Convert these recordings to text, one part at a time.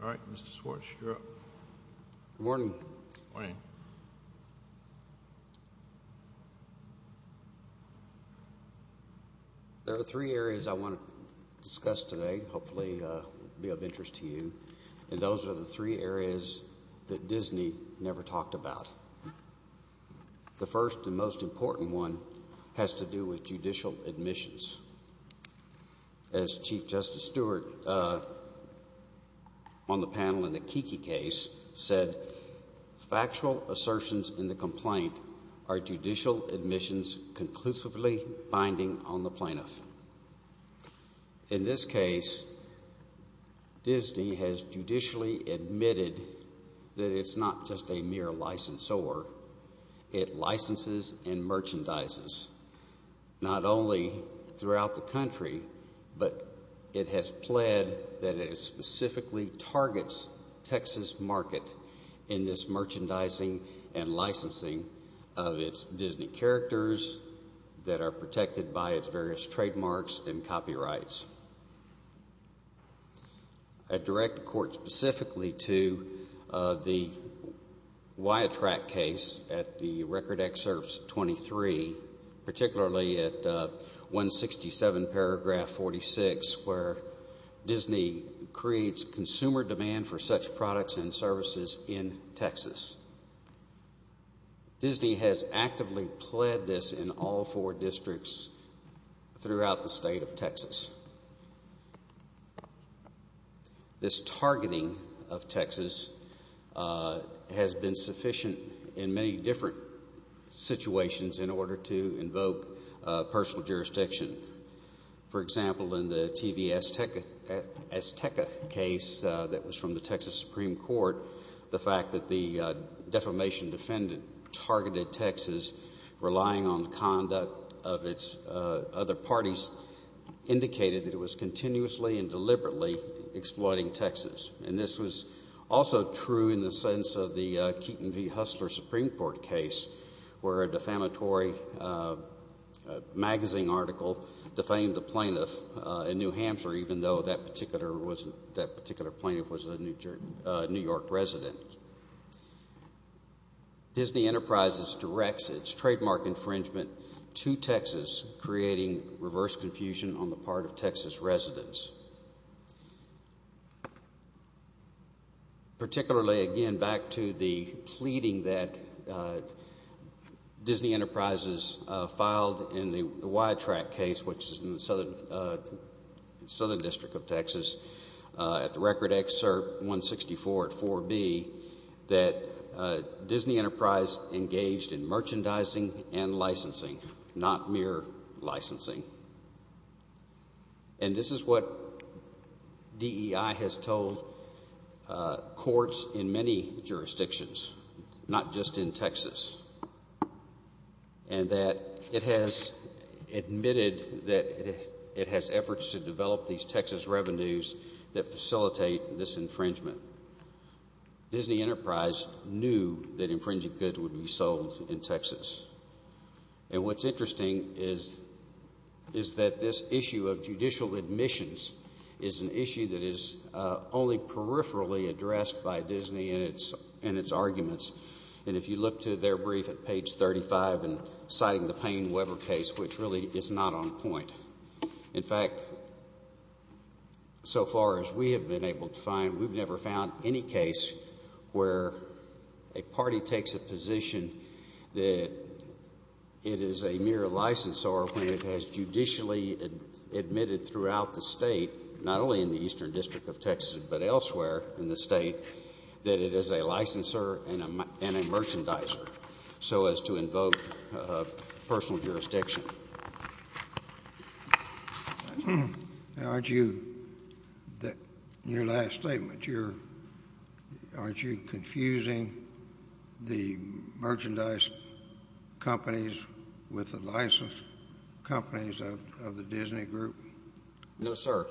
All right, Mr. Swartz, you're up. Good morning. Good morning. There are three areas I want to discuss today, hopefully be of interest to you, and those are the three areas that Disney never talked about. The first and most important one has to do with judicial admissions. As Chief Justice Stewart on the panel in the Kiki case said, factual assertions in the complaint are judicial admissions conclusively binding on the plaintiff. In this case, Disney has judicially admitted that it's not just a mere licensor, it licenses and merchandises. Not only throughout the country, but it has pled that it specifically targets Texas market in this merchandising and licensing of its Disney characters that are protected by its various trademarks and copyrights. I direct the Court specifically to the Wyatt-Track case at the Record Excerpts 23, particularly at 167 paragraph 46, where Disney creates consumer demand for such products and services in Texas. Disney has actively pled this in all four districts throughout the state of Texas. This targeting of Texas has been sufficient in many different situations in order to invoke personal jurisdiction. For example, in the TVS-Tecca case that was from the Texas Supreme Court, the fact that the defamation defendant targeted Texas, relying on conduct of its other parties, indicated that it was continuously and deliberately exploiting Texas. This was also true in the sense of the Keaton v. Hustler Supreme Court case, where a defamatory magazine article defamed a plaintiff in New Hampshire, even though that particular plaintiff was a New York resident. Disney Enterprises directs its trademark infringement to Texas, creating reverse confusion on the part of Texas residents. Particularly, again, back to the pleading that Disney Enterprises filed in the Wyatt-Track case, which is in the Southern District of Texas, at the record excerpt 164 at 4B, that Disney Enterprise engaged in merchandising and licensing, not mere licensing. And this is what DEI has told courts in many jurisdictions, not just in Texas, and that it has admitted that it has efforts to develop these Texas revenues that facilitate this infringement. Disney Enterprise knew that infringing goods would be sold in Texas. And what's interesting is that this issue of judicial admissions is an issue that is only peripherally addressed by Disney and its arguments. And if you look to their brief at page 35, and citing the Payne-Weber case, which really is not on point. In fact, so far as we have been able to find, we've never found any case where a party takes a position that it is a mere licensor when it has judicially admitted throughout the state, not only in the Eastern District of Texas, but elsewhere in the state, that it is a licensor and a merchandiser, so as to invoke personal jurisdiction. Now, aren't you, in your last statement, aren't you confusing the merchandise companies with the licensed companies of the Disney Group? No, sir.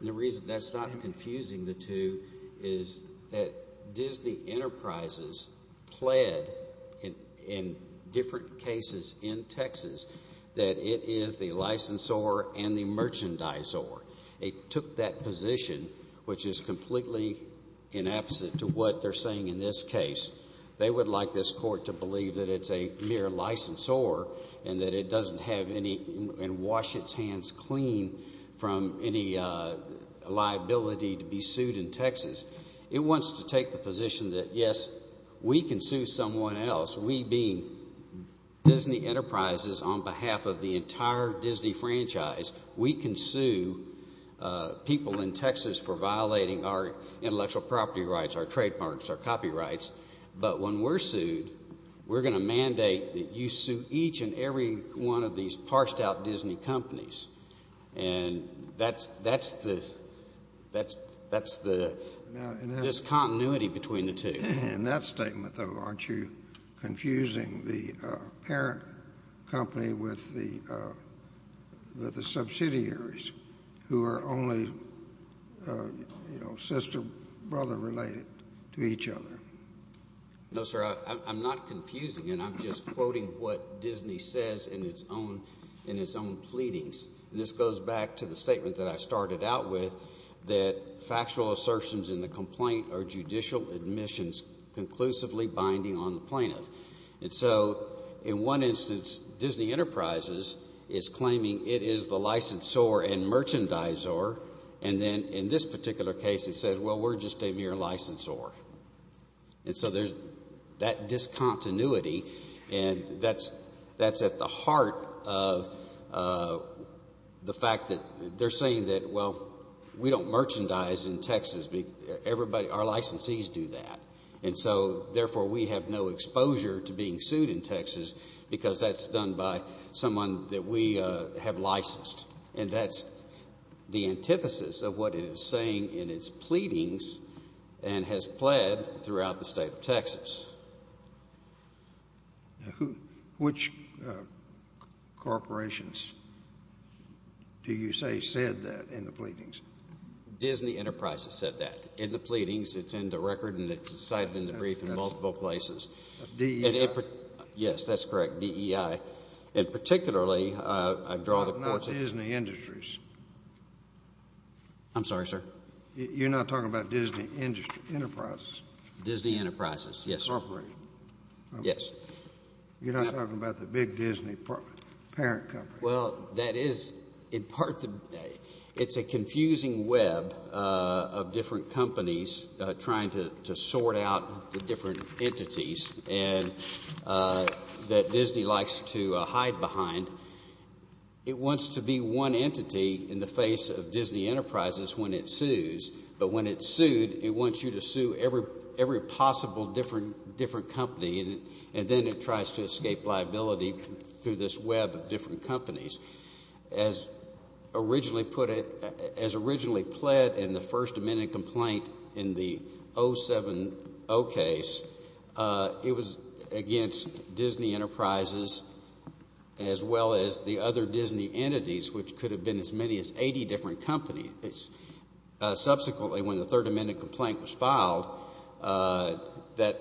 The reason that's not confusing the two is that Disney Enterprises pled in different cases in Texas that it is the licensor and the merchandiser. It took that position, which is completely inapposite to what they're saying in this case. They would like this court to believe that it's a mere licensor and that it doesn't have and wash its hands clean from any liability to be sued in Texas. It wants to take the position that, yes, we can sue someone else, we being Disney Enterprises on behalf of the entire Disney franchise, we can sue people in Texas for violating our intellectual property rights, our trademarks, our copyrights, but when we're sued, we're going to mandate that you sue each and every one of these parsed-out Disney companies. And that's the discontinuity between the two. In that statement, though, aren't you confusing the parent company with the subsidiaries who are only, you know, sister-brother related to each other? No, sir, I'm not confusing, and I'm just quoting what Disney says in its own pleadings. This goes back to the statement that I started out with, that factual assertions in the complaint are judicial admissions conclusively binding on the plaintiff. And so, in one instance, Disney Enterprises is claiming it is the licensor and merchandiser, and then, in this particular case, it says, well, we're just a mere licensor. And so there's that discontinuity, and that's at the heart of the fact that they're saying that, well, we don't merchandise in Texas, everybody, our licensees do that. And so, therefore, we have no exposure to being sued in Texas because that's done by someone that we have licensed. And that's the antithesis of what it is saying in its pleadings and has pled throughout the state of Texas. Which corporations do you say said that in the pleadings? Disney Enterprises said that in the pleadings. It's in the record, and it's cited in the brief in multiple places. DEI. Yes, that's correct, DEI. And, particularly, I draw the court's attention to... Not Disney Industries. I'm sorry, sir? You're not talking about Disney Enterprises? Disney Enterprises, yes, sir. Corporation? Yes. You're not talking about the big Disney parent company? Well, that is, in part, it's a confusing web of different companies trying to sort out the different entities that Disney likes to hide behind. It wants to be one entity in the face of Disney Enterprises when it sues. But when it's sued, it wants you to sue every possible different company, and then it tries to escape liability through this web of different companies. As originally pled in the First Amendment complaint in the 070 case, it was against Disney Enterprises as well as the other Disney entities, which could have been as many as 80 different companies. Subsequently, when the Third Amendment complaint was filed, that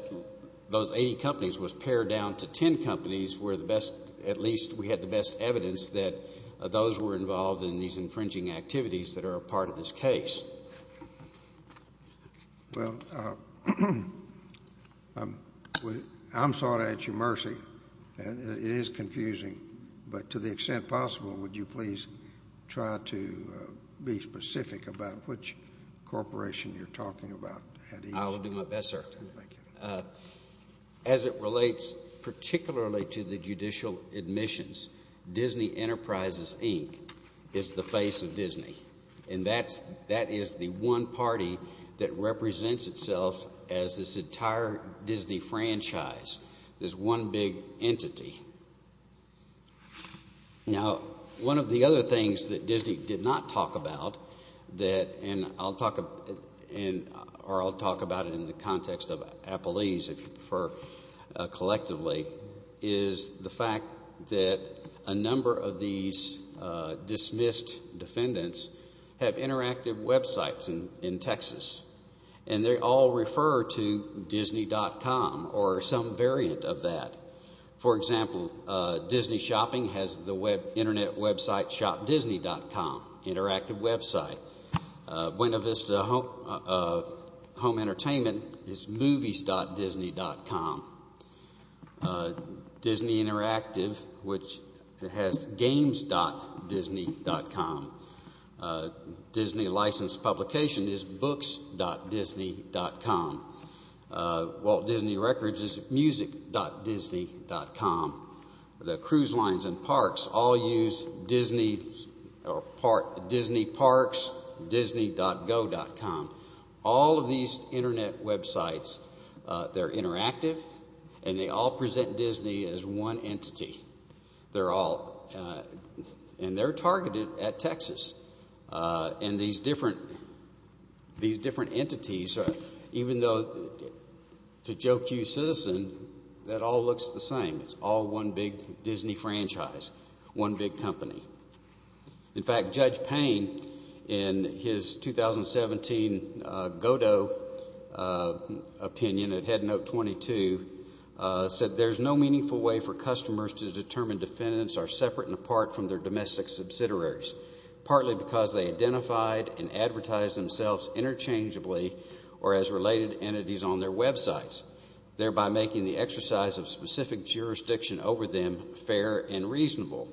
those 80 companies was pared down to 10 companies where, at least, we had the best evidence that those were involved in these infringing activities that are a part of this case. Well, I'm sorry to ask you mercy, and it is confusing, but to the extent possible, would you please try to be specific about which corporation you're talking about? I will do my best, sir. As it relates particularly to the judicial admissions, Disney Enterprises Inc. is the face of Disney, and that is the one party that represents itself as this entire Disney franchise, this one big entity. Now, one of the other things that Disney did not talk about, and I'll talk about it in the context of Appleese, if you prefer, collectively, is the fact that a number of these dismissed defendants have interactive websites in Texas, and they all refer to Disney.com or some variant of that. For example, Disney Shopping has the internet website ShopDisney.com, interactive website. Buena Vista Home Entertainment is Movies.Disney.com. Disney Interactive, which has Games.Disney.com. Disney Licensed Publications is Books.Disney.com. Walt Disney Records is Music.Disney.com. The Cruise Lines and Parks all use Disney Parks.Disney.go.com. All of these internet websites, they're interactive, and they all present Disney as one entity. They're all, and they're targeted at Texas, and these different entities, even though to joke you citizen, that all looks the same. It's all one big Disney franchise, one big company. In fact, Judge Payne, in his 2017 Godot opinion at Head Note 22, said, There's no meaningful way for customers to determine defendants are separate and apart from their domestic subsidiaries, partly because they identified and advertised themselves interchangeably or as related entities on their websites, thereby making the exercise of specific jurisdiction over them fair and reasonable.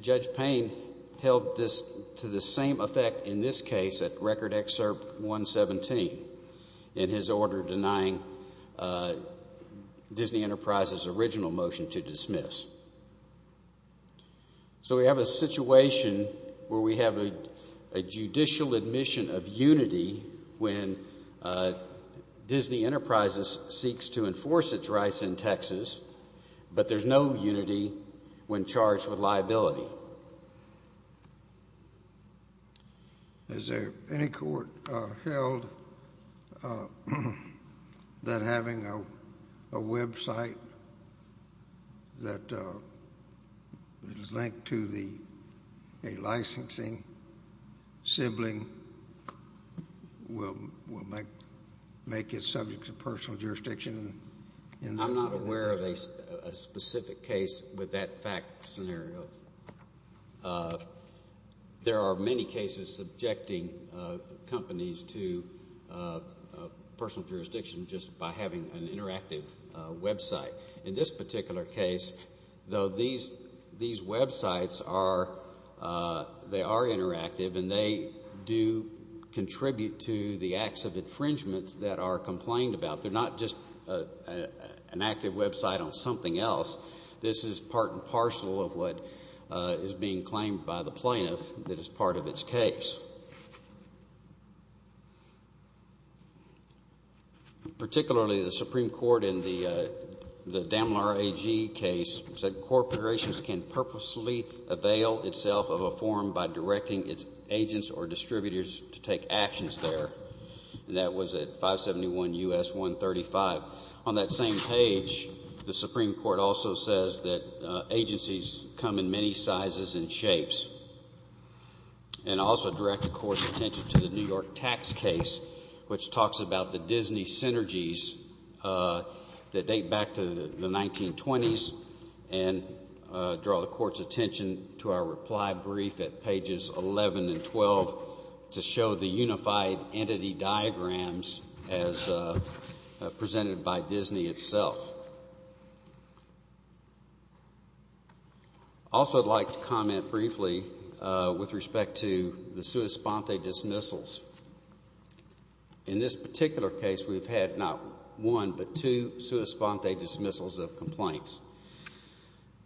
Judge Payne held this to the same effect in this case at Record Excerpt 117 in his order denying Disney Enterprises' original motion to dismiss. So we have a situation where we have a judicial admission of unity when Disney Enterprises seeks to enforce its rights in Texas, but there's no unity when charged with liability. So, is there any court held that having a website that is linked to a licensing sibling will make it subject to personal jurisdiction in that case? I don't have a specific case with that fact scenario. There are many cases subjecting companies to personal jurisdiction just by having an interactive website. In this particular case, though, these websites are, they are interactive and they do contribute to the acts of infringement that are complained about. But they're not just an active website on something else. This is part and parcel of what is being claimed by the plaintiff that is part of its case. Particularly the Supreme Court in the Damlar AG case said corporations can purposely avail itself of a form by directing its agents or distributors to take actions there. That was at 571 U.S. 135. On that same page, the Supreme Court also says that agencies come in many sizes and shapes and also direct the court's attention to the New York tax case, which talks about the Disney synergies that date back to the 1920s and draw the court's attention to our identity diagrams as presented by Disney itself. Also I'd like to comment briefly with respect to the sua sponte dismissals. In this particular case, we've had not one, but two sua sponte dismissals of complaints.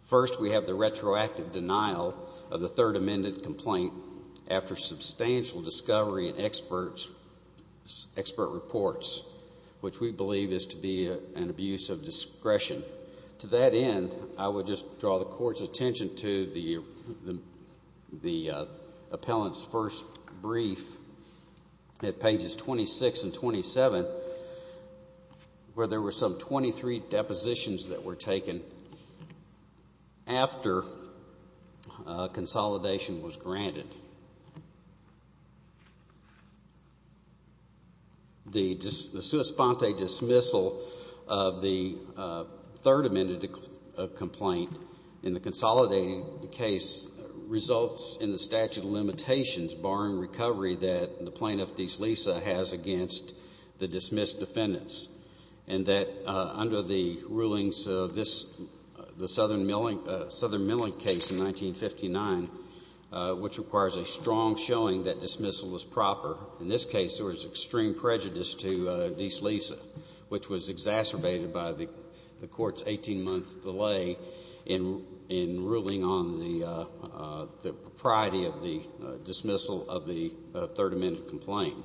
First we have the retroactive denial of the third amended complaint after substantial discovery and expert reports, which we believe is to be an abuse of discretion. To that end, I would just draw the court's attention to the appellant's first brief at pages 26 and 27, where there were some 23 depositions that were taken after consolidation was granted. The sua sponte dismissal of the third amended complaint in the consolidating case results in the statute of limitations barring recovery that the plaintiff, D.C. Lisa, has against the dismissed defendants, and that under the rulings of this, the Southern Milling case in 1959, which requires a strong showing that dismissal is proper. In this case, there was extreme prejudice to D.C. Lisa, which was exacerbated by the court's 18-month delay in ruling on the propriety of the dismissal of the third amended complaint.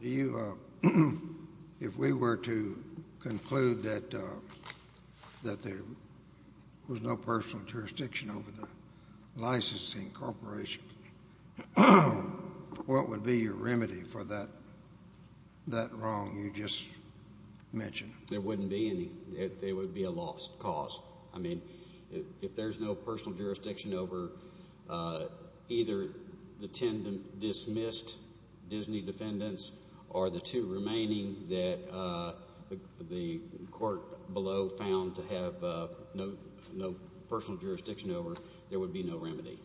Do you, if we were to conclude that there was no personal jurisdiction over the licensing corporation, what would be your remedy for that wrong you just mentioned? There wouldn't be any. It would be a lost cause. I mean, if there's no personal jurisdiction over either the 10 dismissed Disney defendants or the two remaining that the court below found to have no personal jurisdiction over, there would be no remedy.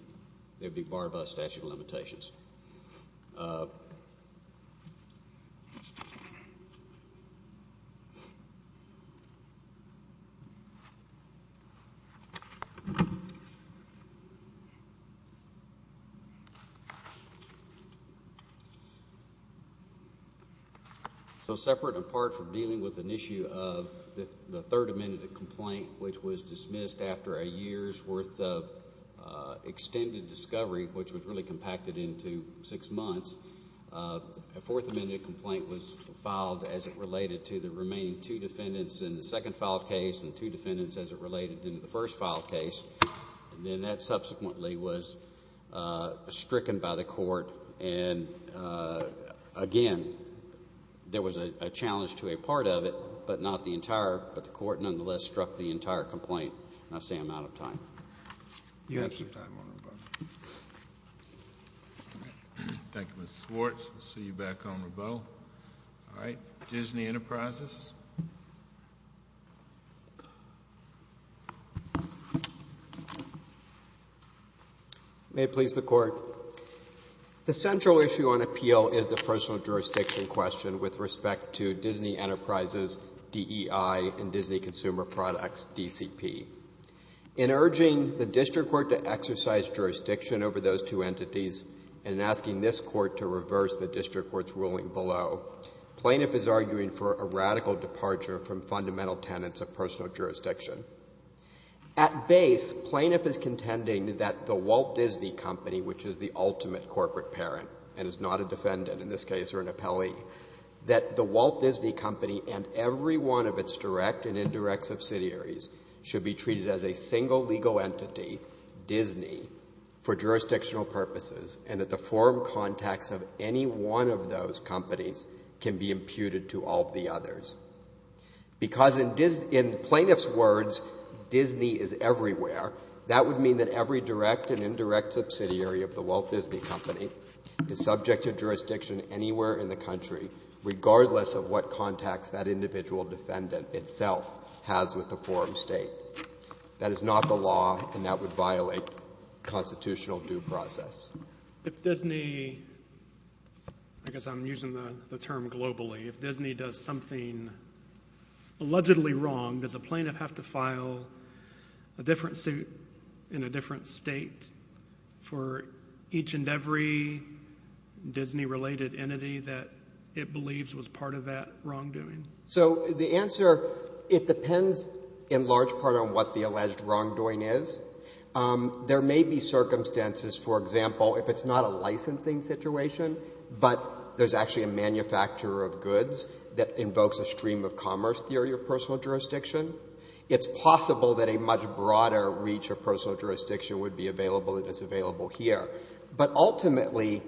It would be barred by statute of limitations. So, separate and apart from dealing with an issue of the third amended complaint, which was dismissed after a year's worth of extended discovery, which was really compacted into six months, a fourth amended complaint was filed as it related to the remaining two defendants in the second filed case and two defendants as it related in the first filed case. And then that subsequently was stricken by the court, and again, there was a challenge to a part of it, but not the entire, but the court nonetheless struck the entire complaint. And I say I'm out of time. You have some time, Honorable. Thank you, Mr. Swartz. We'll see you back, Honorable. All right. Disney Enterprises. May it please the Court. The central issue on appeal is the personal jurisdiction question with respect to Disney Enterprises, DEI, and Disney Consumer Products, DCP. In urging the district court to exercise jurisdiction over those two entities and asking this court to reverse the district court's ruling below, plaintiff is arguing for a radical departure from fundamental tenets of personal jurisdiction. At base, plaintiff is contending that the Walt Disney Company, which is the ultimate corporate parent and is not a defendant in this case or an appellee, that the Walt Disney Company and every one of its direct and indirect subsidiaries should be treated as a single legal entity, Disney, for jurisdictional purposes, and that the forum contacts of any one of those companies can be imputed to all of the others. Because in plaintiff's words, Disney is everywhere, that would mean that every direct and indirect subsidiary of the Walt Disney Company is subject to jurisdiction anywhere in the country regardless of what contacts that individual defendant itself has with the forum State. That is not the law and that would violate constitutional due process. If Disney, I guess I'm using the term globally, if Disney does something allegedly wrong, does a plaintiff have to file a different suit in a different state for each and every Disney related entity that it believes was part of that wrongdoing? So the answer, it depends in large part on what the alleged wrongdoing is. There may be circumstances, for example, if it's not a licensing situation, but there's actually a manufacturer of goods that invokes a stream of commerce theory of personal jurisdiction, it's possible that a much broader reach of personal jurisdiction would be available if it's available here. But ultimately,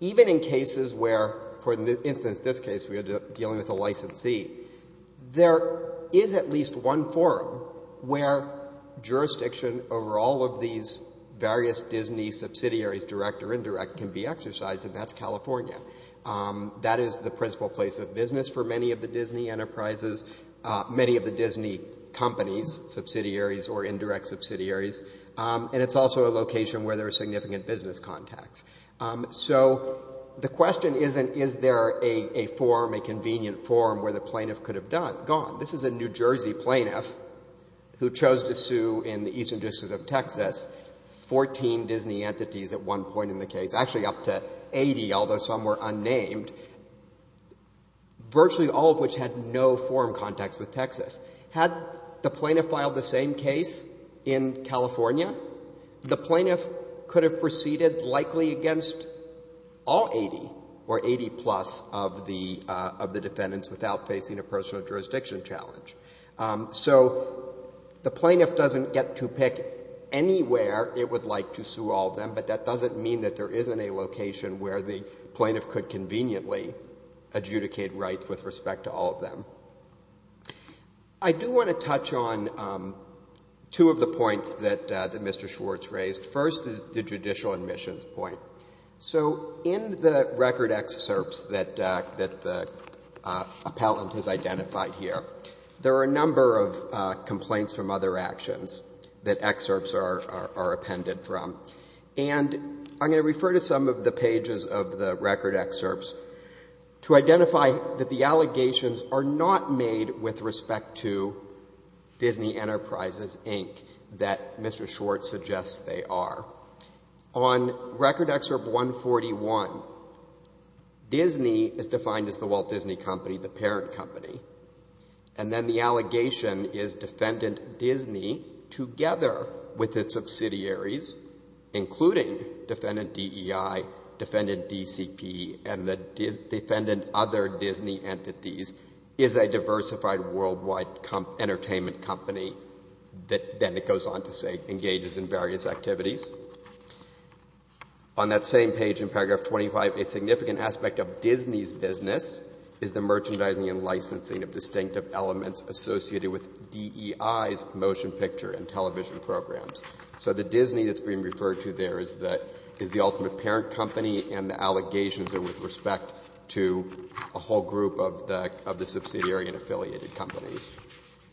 even in cases where, for instance, this case we are dealing with a licensee, there is at least one forum where jurisdiction over all of these various Disney subsidiaries, direct or indirect, can be exercised, and that's California. That is the principal place of business for many of the Disney enterprises, many of the Disney companies, subsidiaries or indirect subsidiaries, and it's also a location where there are significant business contacts. So the question isn't is there a forum, a convenient forum where the plaintiff could have gone. This is a New Jersey plaintiff who chose to sue in the eastern district of Texas, 14 Disney entities at one point in the case, actually up to 80, although some were unnamed, virtually all of which had no forum contacts with Texas. Had the plaintiff filed the same case in California, the plaintiff could have proceeded likely against all 80 or 80-plus of the defendants without facing a personal jurisdiction challenge. So the plaintiff doesn't get to pick anywhere it would like to sue all of them, but that doesn't mean that there isn't a location where the plaintiff could conveniently adjudicate rights with respect to all of them. I do want to touch on two of the points that Mr. Schwartz raised. First is the judicial admissions point. So in the record excerpts that the appellant has identified here, there are a number of complaints from other actions that excerpts are appended from. And I'm going to refer to some of the pages of the record excerpts to identify that the allegations are not made with respect to Disney Enterprises, Inc. that Mr. Schwartz suggests they are. On record excerpt 141, Disney is defined as the Walt Disney Company, the parent company, and then the allegation is Defendant Disney, together with its subsidiaries, including Defendant DEI, Defendant DCP, and the defendant other Disney entities, is a diversified worldwide entertainment company that then it goes on to say engages in various activities. On that same page in paragraph 25, a significant aspect of Disney's business is the merchandising and licensing of distinctive elements associated with DEI's motion picture and television programs. So the Disney that's being referred to there is the ultimate parent company and the allegations are with respect to a whole group of the subsidiary and affiliated companies.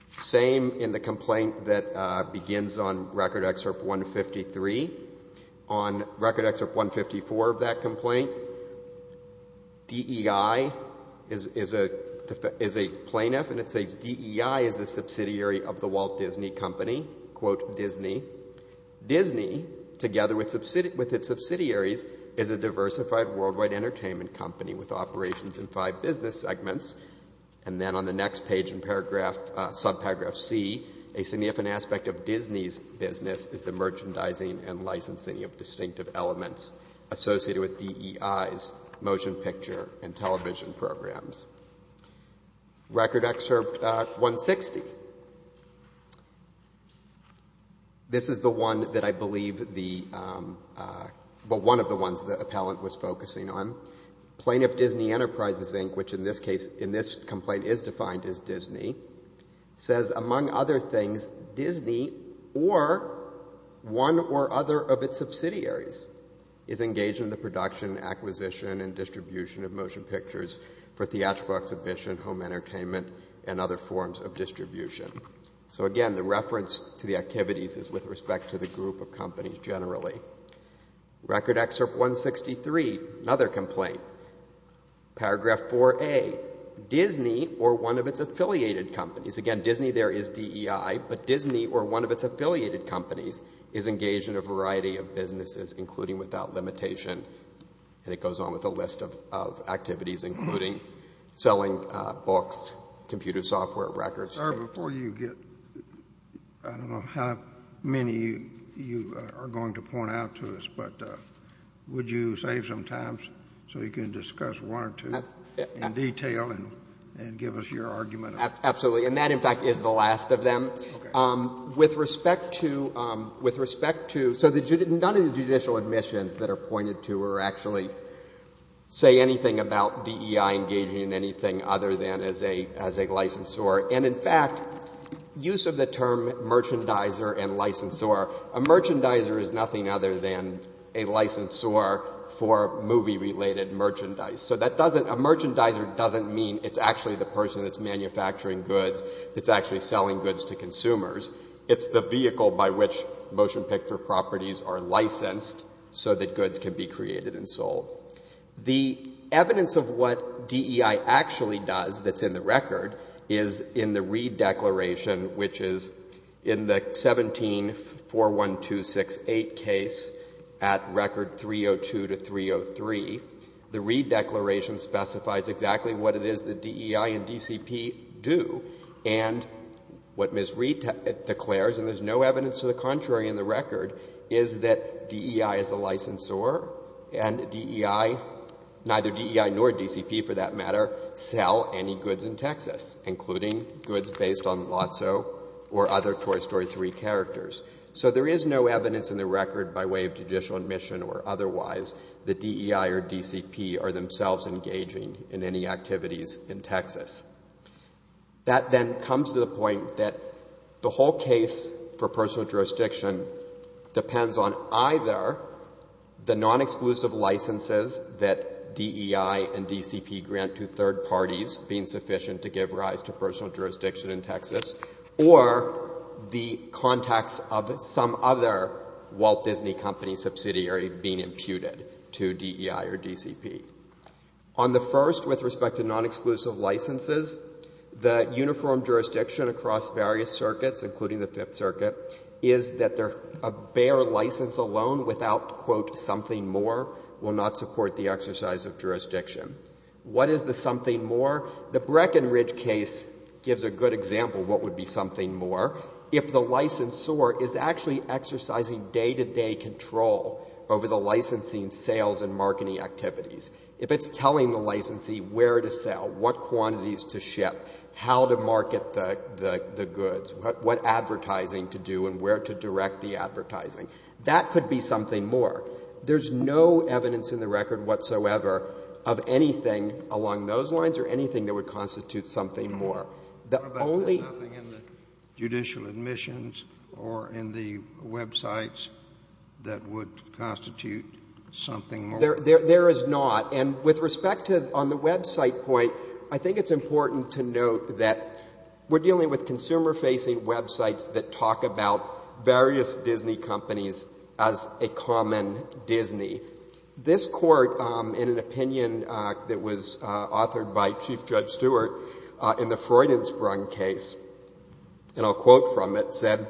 Same in the complaint that begins on record excerpt 153. On record excerpt 154 of that complaint, DEI is a plaintiff and it says DEI is a subsidiary of the Walt Disney Company, quote Disney. Disney, together with its subsidiaries, is a diversified worldwide entertainment company with operations in five business segments. And then on the next page in paragraph, subparagraph C, a significant aspect of Disney's business is the merchandising and licensing of distinctive elements associated with DEI's motion picture and television programs. Record excerpt 160. This is the one that I believe the, well, one of the ones that appellant was focusing on. Plaintiff Disney Enterprises, Inc., which in this case, in this complaint is defined as Disney, says among other things, Disney or one or other of its subsidiaries is engaged in the production, acquisition, and distribution of motion pictures for theatrical flashbooks, a vision, home entertainment, and other forms of distribution. So again, the reference to the activities is with respect to the group of companies generally. Record excerpt 163, another complaint, paragraph 4A. Disney or one of its affiliated companies, again, Disney there is DEI, but Disney or one of its affiliated companies is engaged in a variety of businesses, including without limitation. And it goes on with a list of activities, including selling books, computer software, JUSTICE SCALIA. Sir, before you get, I don't know how many you are going to point out to us, but would you save some time so we can discuss one or two in detail and give us your argument on that? JUSTICE BREYER. And that, in fact, is the last of them. JUSTICE SCALIA. Okay. JUSTICE BREYER. Okay. With respect to, with respect to, so none of the judicial admissions that are pointed to are actually say anything about DEI engaging in anything other than as a, as a licensor. And in fact, use of the term merchandiser and licensor, a merchandiser is nothing other than a licensor for movie-related merchandise. So that doesn't, a merchandiser doesn't mean it's actually the person that's manufacturing goods that's actually selling goods to consumers. It's the vehicle by which motion picture properties are licensed so that goods can be created and sold. The evidence of what DEI actually does that's in the record is in the Reed Declaration, which is in the 17-41268 case at record 302 to 303. The Reed Declaration specifies exactly what it is that DEI and DCP do. And what Ms. Reed declares, and there's no evidence to the contrary in the record, is that DEI is a licensor and DEI, neither DEI nor DCP for that matter, sell any goods in Texas, including goods based on Lotso or other Toy Story 3 characters. So there is no evidence in the record by way of judicial admission or otherwise that DEI or DCP are themselves engaging in any activities in Texas. That then comes to the point that the whole case for personal jurisdiction depends on either the non-exclusive licenses that DEI and DCP grant to third parties being sufficient to give rise to personal jurisdiction in Texas, or the contacts of some other Walt Disney Company subsidiary being imputed to DEI or DCP. On the first, with respect to non-exclusive licenses, the uniform jurisdiction across various circuits, including the Fifth Circuit, is that a bare license alone without, quote, something more, will not support the exercise of jurisdiction. What is the something more? The Breckenridge case gives a good example of what would be something more if the licensor is actually exercising day-to-day control over the licensing, sales, and marketing activities. If it's telling the licensee where to sell, what quantities to ship, how to market the goods, what advertising to do, and where to direct the advertising, that could be something more. There's no evidence in the record whatsoever of anything along those lines or anything that would constitute something more. There is not. And with respect to, on the website point, I think it's important to note that we're dealing with consumer-facing websites that talk about various Disney companies as a common Disney. This Court, in an opinion that was authored by Chief Judge Stewart, in the Freudensprung case, and I'll quote from it, said,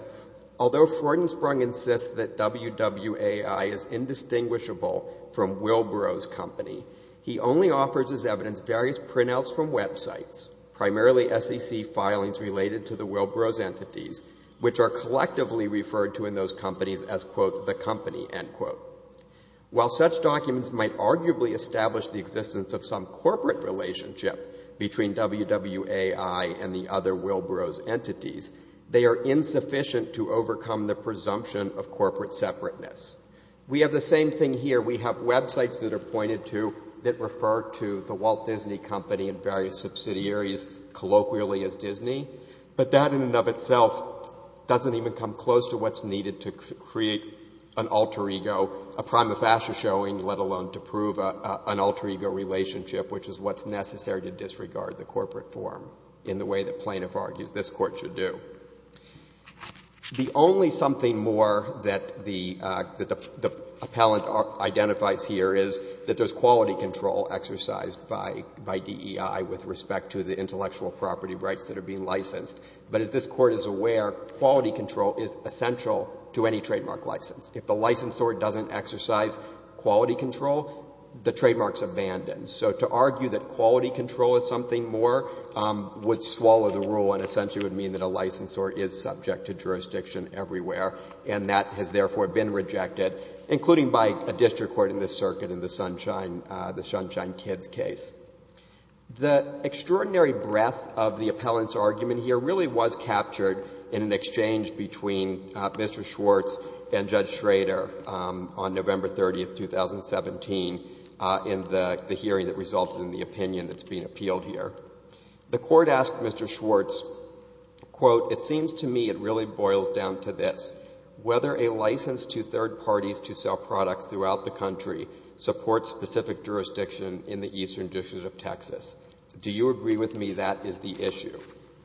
Although Freudensprung insists that WWAI is indistinguishable from Wilbrow's company, he only offers as evidence various printouts from websites, primarily SEC filings related to the Wilbrow's entities, which are collectively referred to in those companies as, quote, the company, end quote. While such documents might arguably establish the existence of some corporate relationship between WWAI and the other Wilbrow's entities, they are insufficient to overcome the presumption of corporate separateness. We have the same thing here. We have websites that are pointed to that refer to the Walt Disney Company and various subsidiaries colloquially as Disney, but that in and of itself doesn't even come close to what's needed to create an alter ego, a prima facie showing, let alone to prove an alter ego relationship, which is what's necessary to disregard the corporate form in the way that plaintiff argues this Court should do. The only something more that the appellant identifies here is that there's quality control exercised by DEI with respect to the intellectual property rights that are being licensed. But as this Court is aware, quality control is essential to any trademark license. If the licensor doesn't exercise quality control, the trademark's abandoned. So to argue that quality control is something more would swallow the rule and essentially would mean that a licensor is subject to jurisdiction everywhere, and that has therefore been rejected, including by a district court in this circuit in the Sunshine, the Sunshine Kids case. The extraordinary breadth of the appellant's argument here really was captured in an exchange between Mr. Schwartz and Judge Schrader on November 30, 2017, in the hearing that resulted in the opinion that's being appealed here. The Court asked Mr. Schwartz, quote, it seems to me it really boils down to this. Whether a license to third parties to sell products throughout the country supports specific jurisdiction in the Eastern District of Texas. Do you agree with me that is the issue?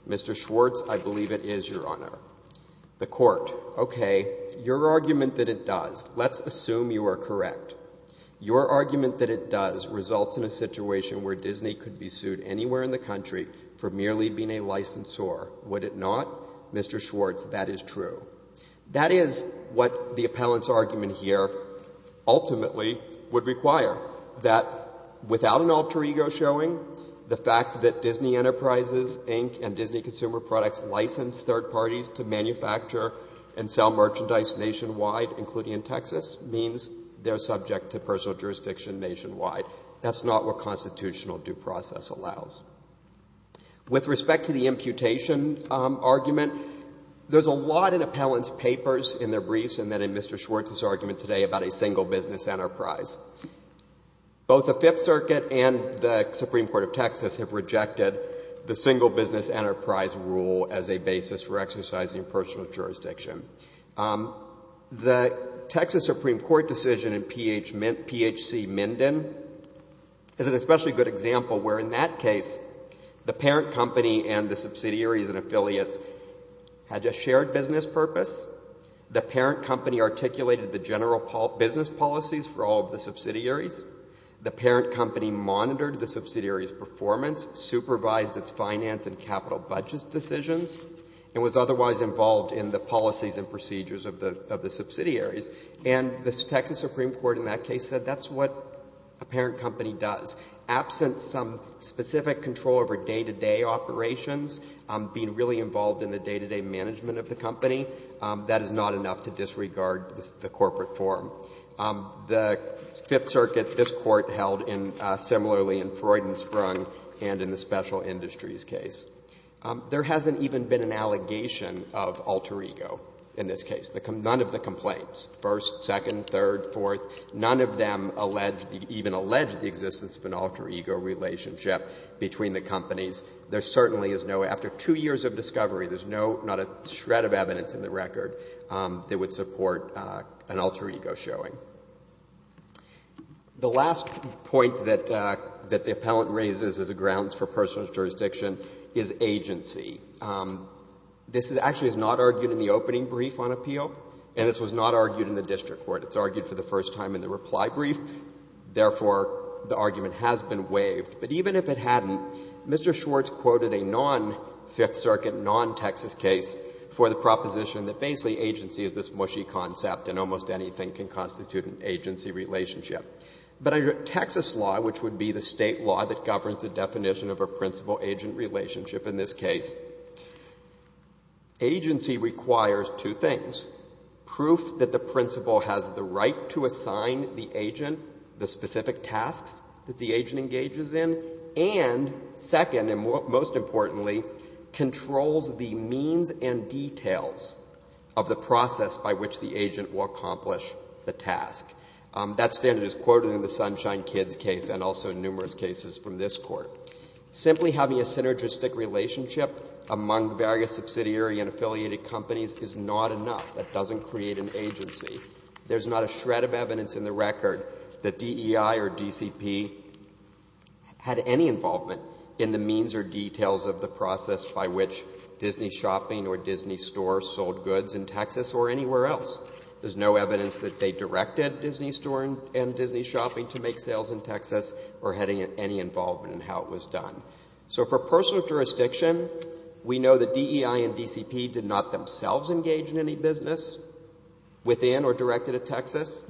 Mr. Schwartz, I believe it is, Your Honor. The Court, okay, your argument that it does, let's assume you are correct. Your argument that it does results in a situation where Disney could be sued anywhere in the country for merely being a licensor. Would it not? Mr. Schwartz, that is true. That is what the appellant's argument here ultimately would require, that without an license, third parties to manufacture and sell merchandise nationwide, including in Texas, means they are subject to personal jurisdiction nationwide. That's not what constitutional due process allows. With respect to the imputation argument, there's a lot in appellant's papers in their briefs and then in Mr. Schwartz's argument today about a single business enterprise. Both the Fifth Circuit and the Supreme Court of Texas have rejected the single business enterprise rule as a basis for exercising personal jurisdiction. The Texas Supreme Court decision in PHC Minden is an especially good example where in that case, the parent company and the subsidiaries and affiliates had a shared business purpose. The parent company articulated the general business policies for all of the subsidiaries. The parent company monitored the subsidiaries' performance, supervised its finance and capital budget decisions, and was otherwise involved in the policies and procedures of the subsidiaries. And the Texas Supreme Court in that case said that's what a parent company does. Absent some specific control over day-to-day operations, being really involved in the day-to-day management of the company, that is not enough to disregard the corporate form. The Fifth Circuit, this Court held similarly in Freud and Sprung and in the Special Industries case. There hasn't even been an allegation of alter ego in this case. None of the complaints, first, second, third, fourth, none of them allege, even allege the existence of an alter ego relationship between the companies. There certainly is no, after two years of discovery, there's no, not a shred of evidence in the record that would support an alter ego showing. The last point that the appellant raises as a grounds for personal jurisdiction is agency. This actually is not argued in the opening brief on appeal, and this was not argued in the district court. It's argued for the first time in the reply brief. Therefore, the argument has been waived. But even if it hadn't, Mr. Schwartz quoted a non-Fifth Circuit, non-Texas case for the proposition that basically agency is this mushy concept and almost anything can constitute an agency relationship. But under Texas law, which would be the State law that governs the definition of a principal-agent relationship in this case, agency requires two things, proof that the principal has the right to assign the agent the specific tasks that the agent engages in, and second, and most importantly, controls the means and details of the process by which the agent will accomplish the task. That standard is quoted in the Sunshine Kids case and also numerous cases from this Court. Simply having a synergistic relationship among various subsidiary and affiliated companies is not enough. That doesn't create an agency. There's not a shred of evidence in the record that DEI or DCP had any involvement in the means or details of the process by which Disney Shopping or Disney Store sold goods in Texas or anywhere else. There's no evidence that they directed Disney Store and Disney Shopping to make sales in Texas or had any involvement in how it was done. So for personal jurisdiction, we know that DEI and DCP did not themselves engage in any business within or directed at Texas,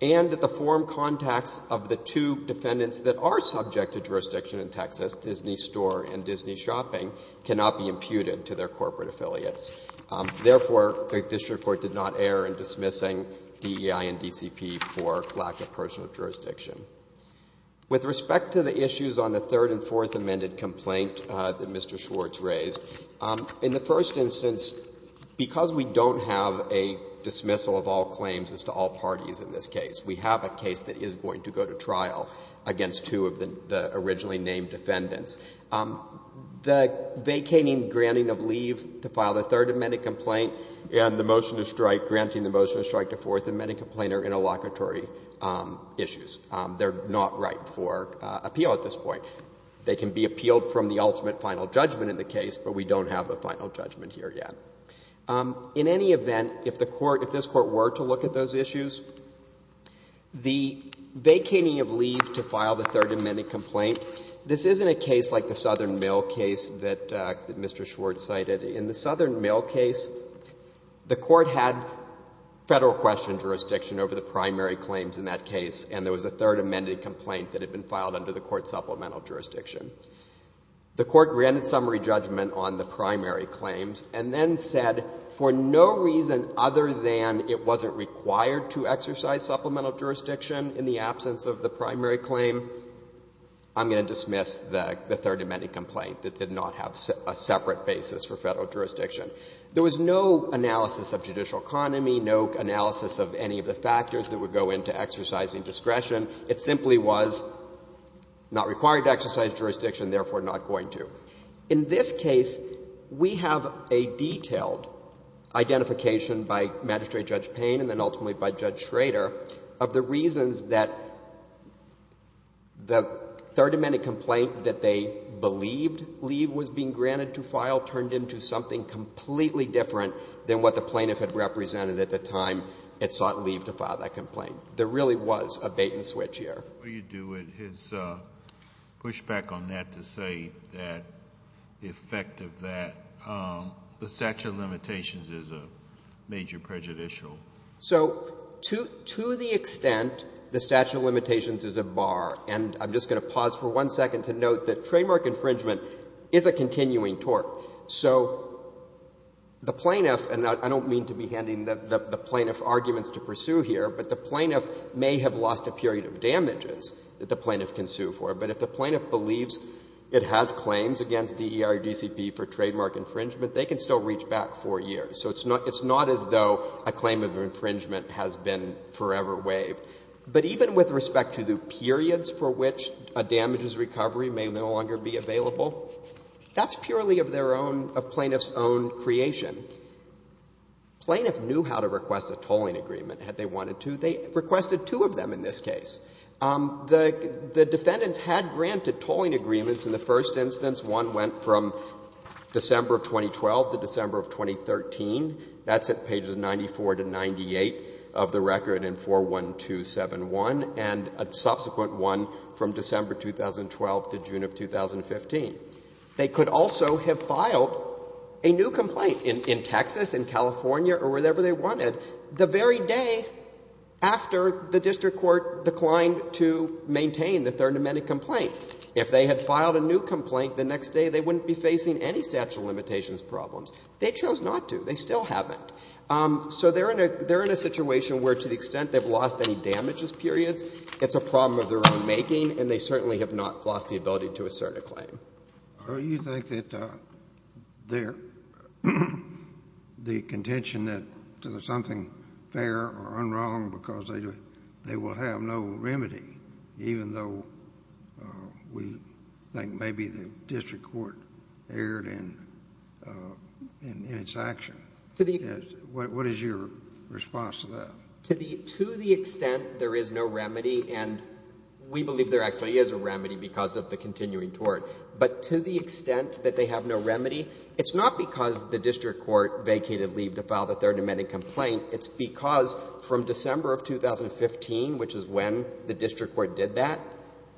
and that the forum contacts of the two defendants that are subject to jurisdiction in Texas, Disney Store and Disney Shopping, cannot be imputed to their corporate affiliates. Therefore, the district court did not err in dismissing DEI and DCP for lack of personal jurisdiction. With respect to the issues on the third and fourth amended complaint that Mr. Schwartz raised, in the first instance, because we don't have a dismissal of all claims as to all parties in this case, we have a case that is going to go to trial against two of the originally named defendants. The vacating granting of leave to file the third amended complaint and the motion to strike, granting the motion to strike the fourth amended complaint are interlocutory issues. They're not right for appeal at this point. They can be appealed from the ultimate final judgment in the case, but we don't have a final judgment here yet. In any event, if the Court — if this Court were to look at those issues, the vacating of leave to file the third amended complaint, this isn't a case like the Southern Mill case that Mr. Schwartz cited. In the Southern Mill case, the Court had Federal question jurisdiction over the primary claims in that case, and there was a third amended complaint that had been filed under the Court's supplemental jurisdiction. The Court granted summary judgment on the primary claims and then said for no reason other than it wasn't required to exercise supplemental jurisdiction in the absence of the primary claim, I'm going to dismiss the third amended complaint that did not have a separate basis for Federal jurisdiction. There was no analysis of judicial economy, no analysis of any of the factors that would go into exercising discretion. It simply was not required to exercise jurisdiction, therefore not going to. In this case, we have a detailed identification by Magistrate Judge Payne and then ultimately by Judge Schrader of the reasons that the third amended complaint that they believed leave was being granted to file turned into something completely different than what the plaintiff had represented at the time it sought leave to file that complaint. There really was a bait-and-switch here. Kennedy, what do you do with his pushback on that to say that the effect of that the statute of limitations is a major prejudicial? So to the extent the statute of limitations is a bar, and I'm just going to pause for one second to note that trademark infringement is a continuing tort. So the plaintiff, and I don't mean to be handing the plaintiff arguments to pursue here, but the plaintiff may have lost a period of damages that the plaintiff can sue for, but if the plaintiff believes it has claims against DER or DCP for trademark infringement, they can still reach back 4 years. So it's not as though a claim of infringement has been forever waived. But even with respect to the periods for which a damages recovery may no longer be available, that's purely of their own, of plaintiff's own creation. Plaintiff knew how to request a tolling agreement had they wanted to. They requested two of them in this case. The defendants had granted tolling agreements in the first instance. One went from December of 2012 to December of 2013. That's at pages 94 to 98 of the record in 41271, and a subsequent one from December 2012 to June of 2015. They could also have filed a new complaint in Texas, in California, or wherever they wanted, the very day after the district court declined to maintain the Third Amendment complaint. If they had filed a new complaint the next day, they wouldn't be facing any statute of limitations problems. They chose not to. They still haven't. So they're in a situation where, to the extent they've lost any damages periods, it's a problem of their own making, and they certainly have not lost the ability to assert a claim. Sotomayor, do you think that the contention that there's something fair or unwrong because they will have no remedy, even though we think maybe the district court erred in its action? What is your response to that? To the extent there is no remedy, and we believe there actually is a remedy because of the continuing tort, but to the extent that they have no remedy, it's not because the district court vacated leave to file the Third Amendment complaint. It's because from December of 2015, which is when the district court did that,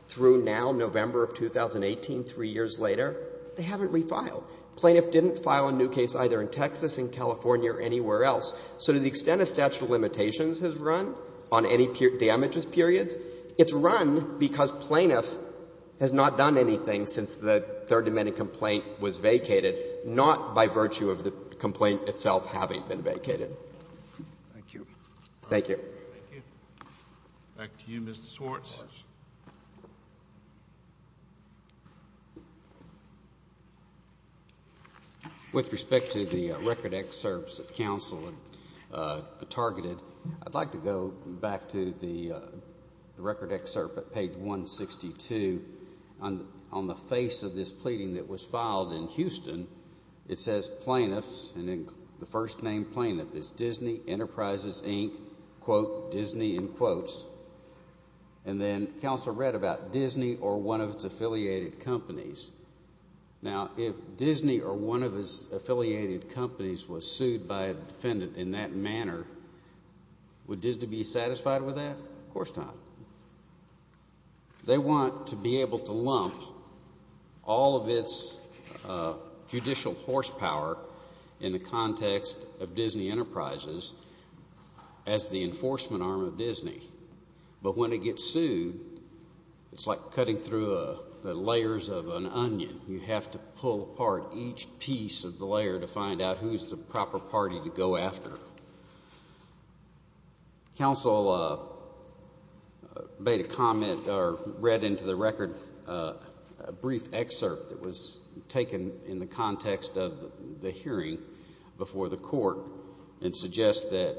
through now, November of 2018, three years later, they haven't refiled. Plaintiff didn't file a new case either in Texas, in California, or anywhere else. So to the extent a statute of limitations has run on any damages periods, it's run because plaintiff has not done anything since the Third Amendment complaint was vacated, not by virtue of the complaint itself having been vacated. Thank you. Thank you. Thank you. Back to you, Mr. Swartz. With respect to the record excerpts that counsel targeted, I'd like to go back to the record excerpt at page 162. On the face of this pleading that was filed in Houston, it says plaintiffs, and the first name plaintiff is Disney Enterprises, Inc., quote, Disney, in quotes. And then counsel read about Disney or one of its affiliated companies. Now, if Disney or one of its affiliated companies was sued by a defendant in that manner, would they have sued it? Of course not. They want to be able to lump all of its judicial horsepower in the context of Disney Enterprises as the enforcement arm of Disney. But when it gets sued, it's like cutting through the layers of an onion. You have to pull apart each piece of the layer to find out who's the proper party to go after. Counsel made a comment or read into the record a brief excerpt that was taken in the context of the hearing before the court and suggests that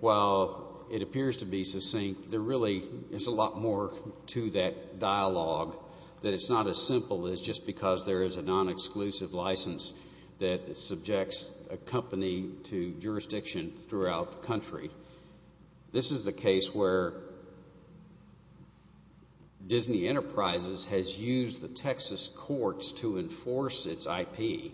while it appears to be succinct, there really is a lot more to that dialogue, that it's not as simple as just because there is a non-exclusive license that subjects a company to jurisdiction throughout the country. This is the case where Disney Enterprises has used the Texas courts to enforce its IP,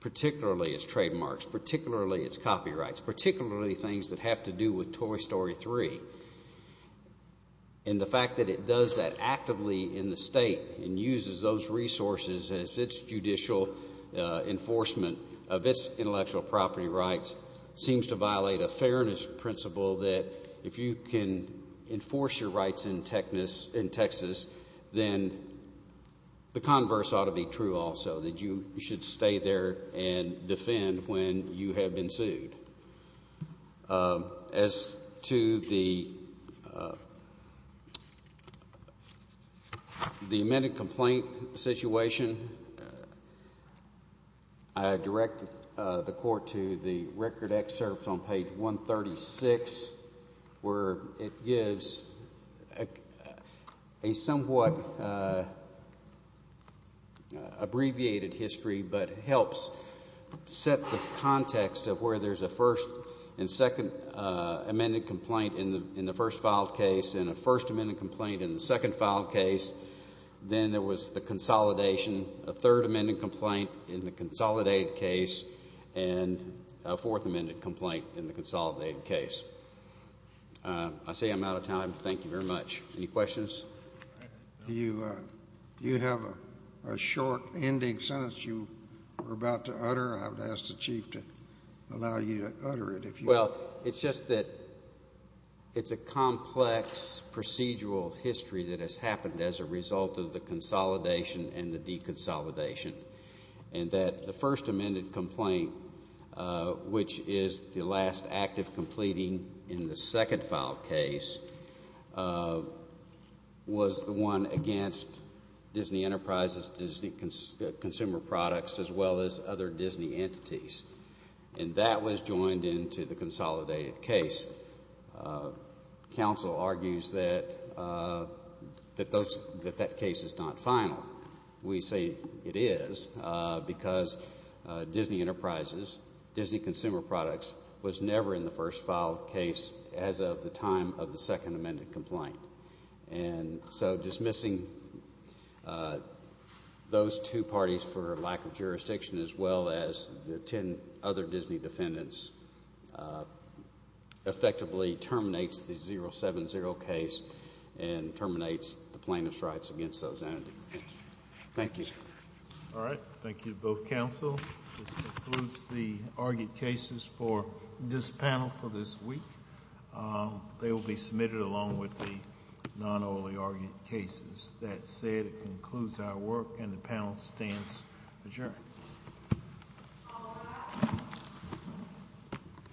particularly its trademarks, particularly its copyrights, particularly things that have to do with Toy Story 3. And the fact that it does that actively in the state and uses those resources as its judicial enforcement of its intellectual property rights seems to violate a fairness principle that if you can enforce your rights in Texas, then the converse ought to be true also, that you should stay there and defend when you have been sued. As to the amended complaint situation, I directed the court to the record excerpts on page 136 where it gives a somewhat abbreviated history but helps set the context of where there is a first and second amended complaint in the first filed case and a first amended complaint in the second filed case, then there was the consolidation, a third amended complaint in the consolidated case, and a fourth amended complaint in the consolidated case. I say I'm out of time. Thank you very much. Any questions? Do you have a short ending sentence you were about to utter? I would ask the Chief to allow you to utter it. Well, it's just that it's a complex procedural history that has happened as a result of the consolidation and the deconsolidation and that the first amended complaint, which is the last act of completing in the second filed case, was the one against Disney Enterprises and Disney Consumer Products as well as other Disney entities, and that was joined into the consolidated case. Counsel argues that that case is not final. We say it is because Disney Enterprises, Disney Consumer Products, was never in the first filed case as of the time of the second amended complaint. And so dismissing those two parties for lack of jurisdiction as well as the ten other Disney defendants effectively terminates the 070 case and terminates the plaintiff's rights against those entities. Thank you. All right. Thank you to both counsel. This concludes the argued cases for this panel for this week. They will be submitted along with the non-only argued cases. That said, it concludes our work and the panel stands adjourned.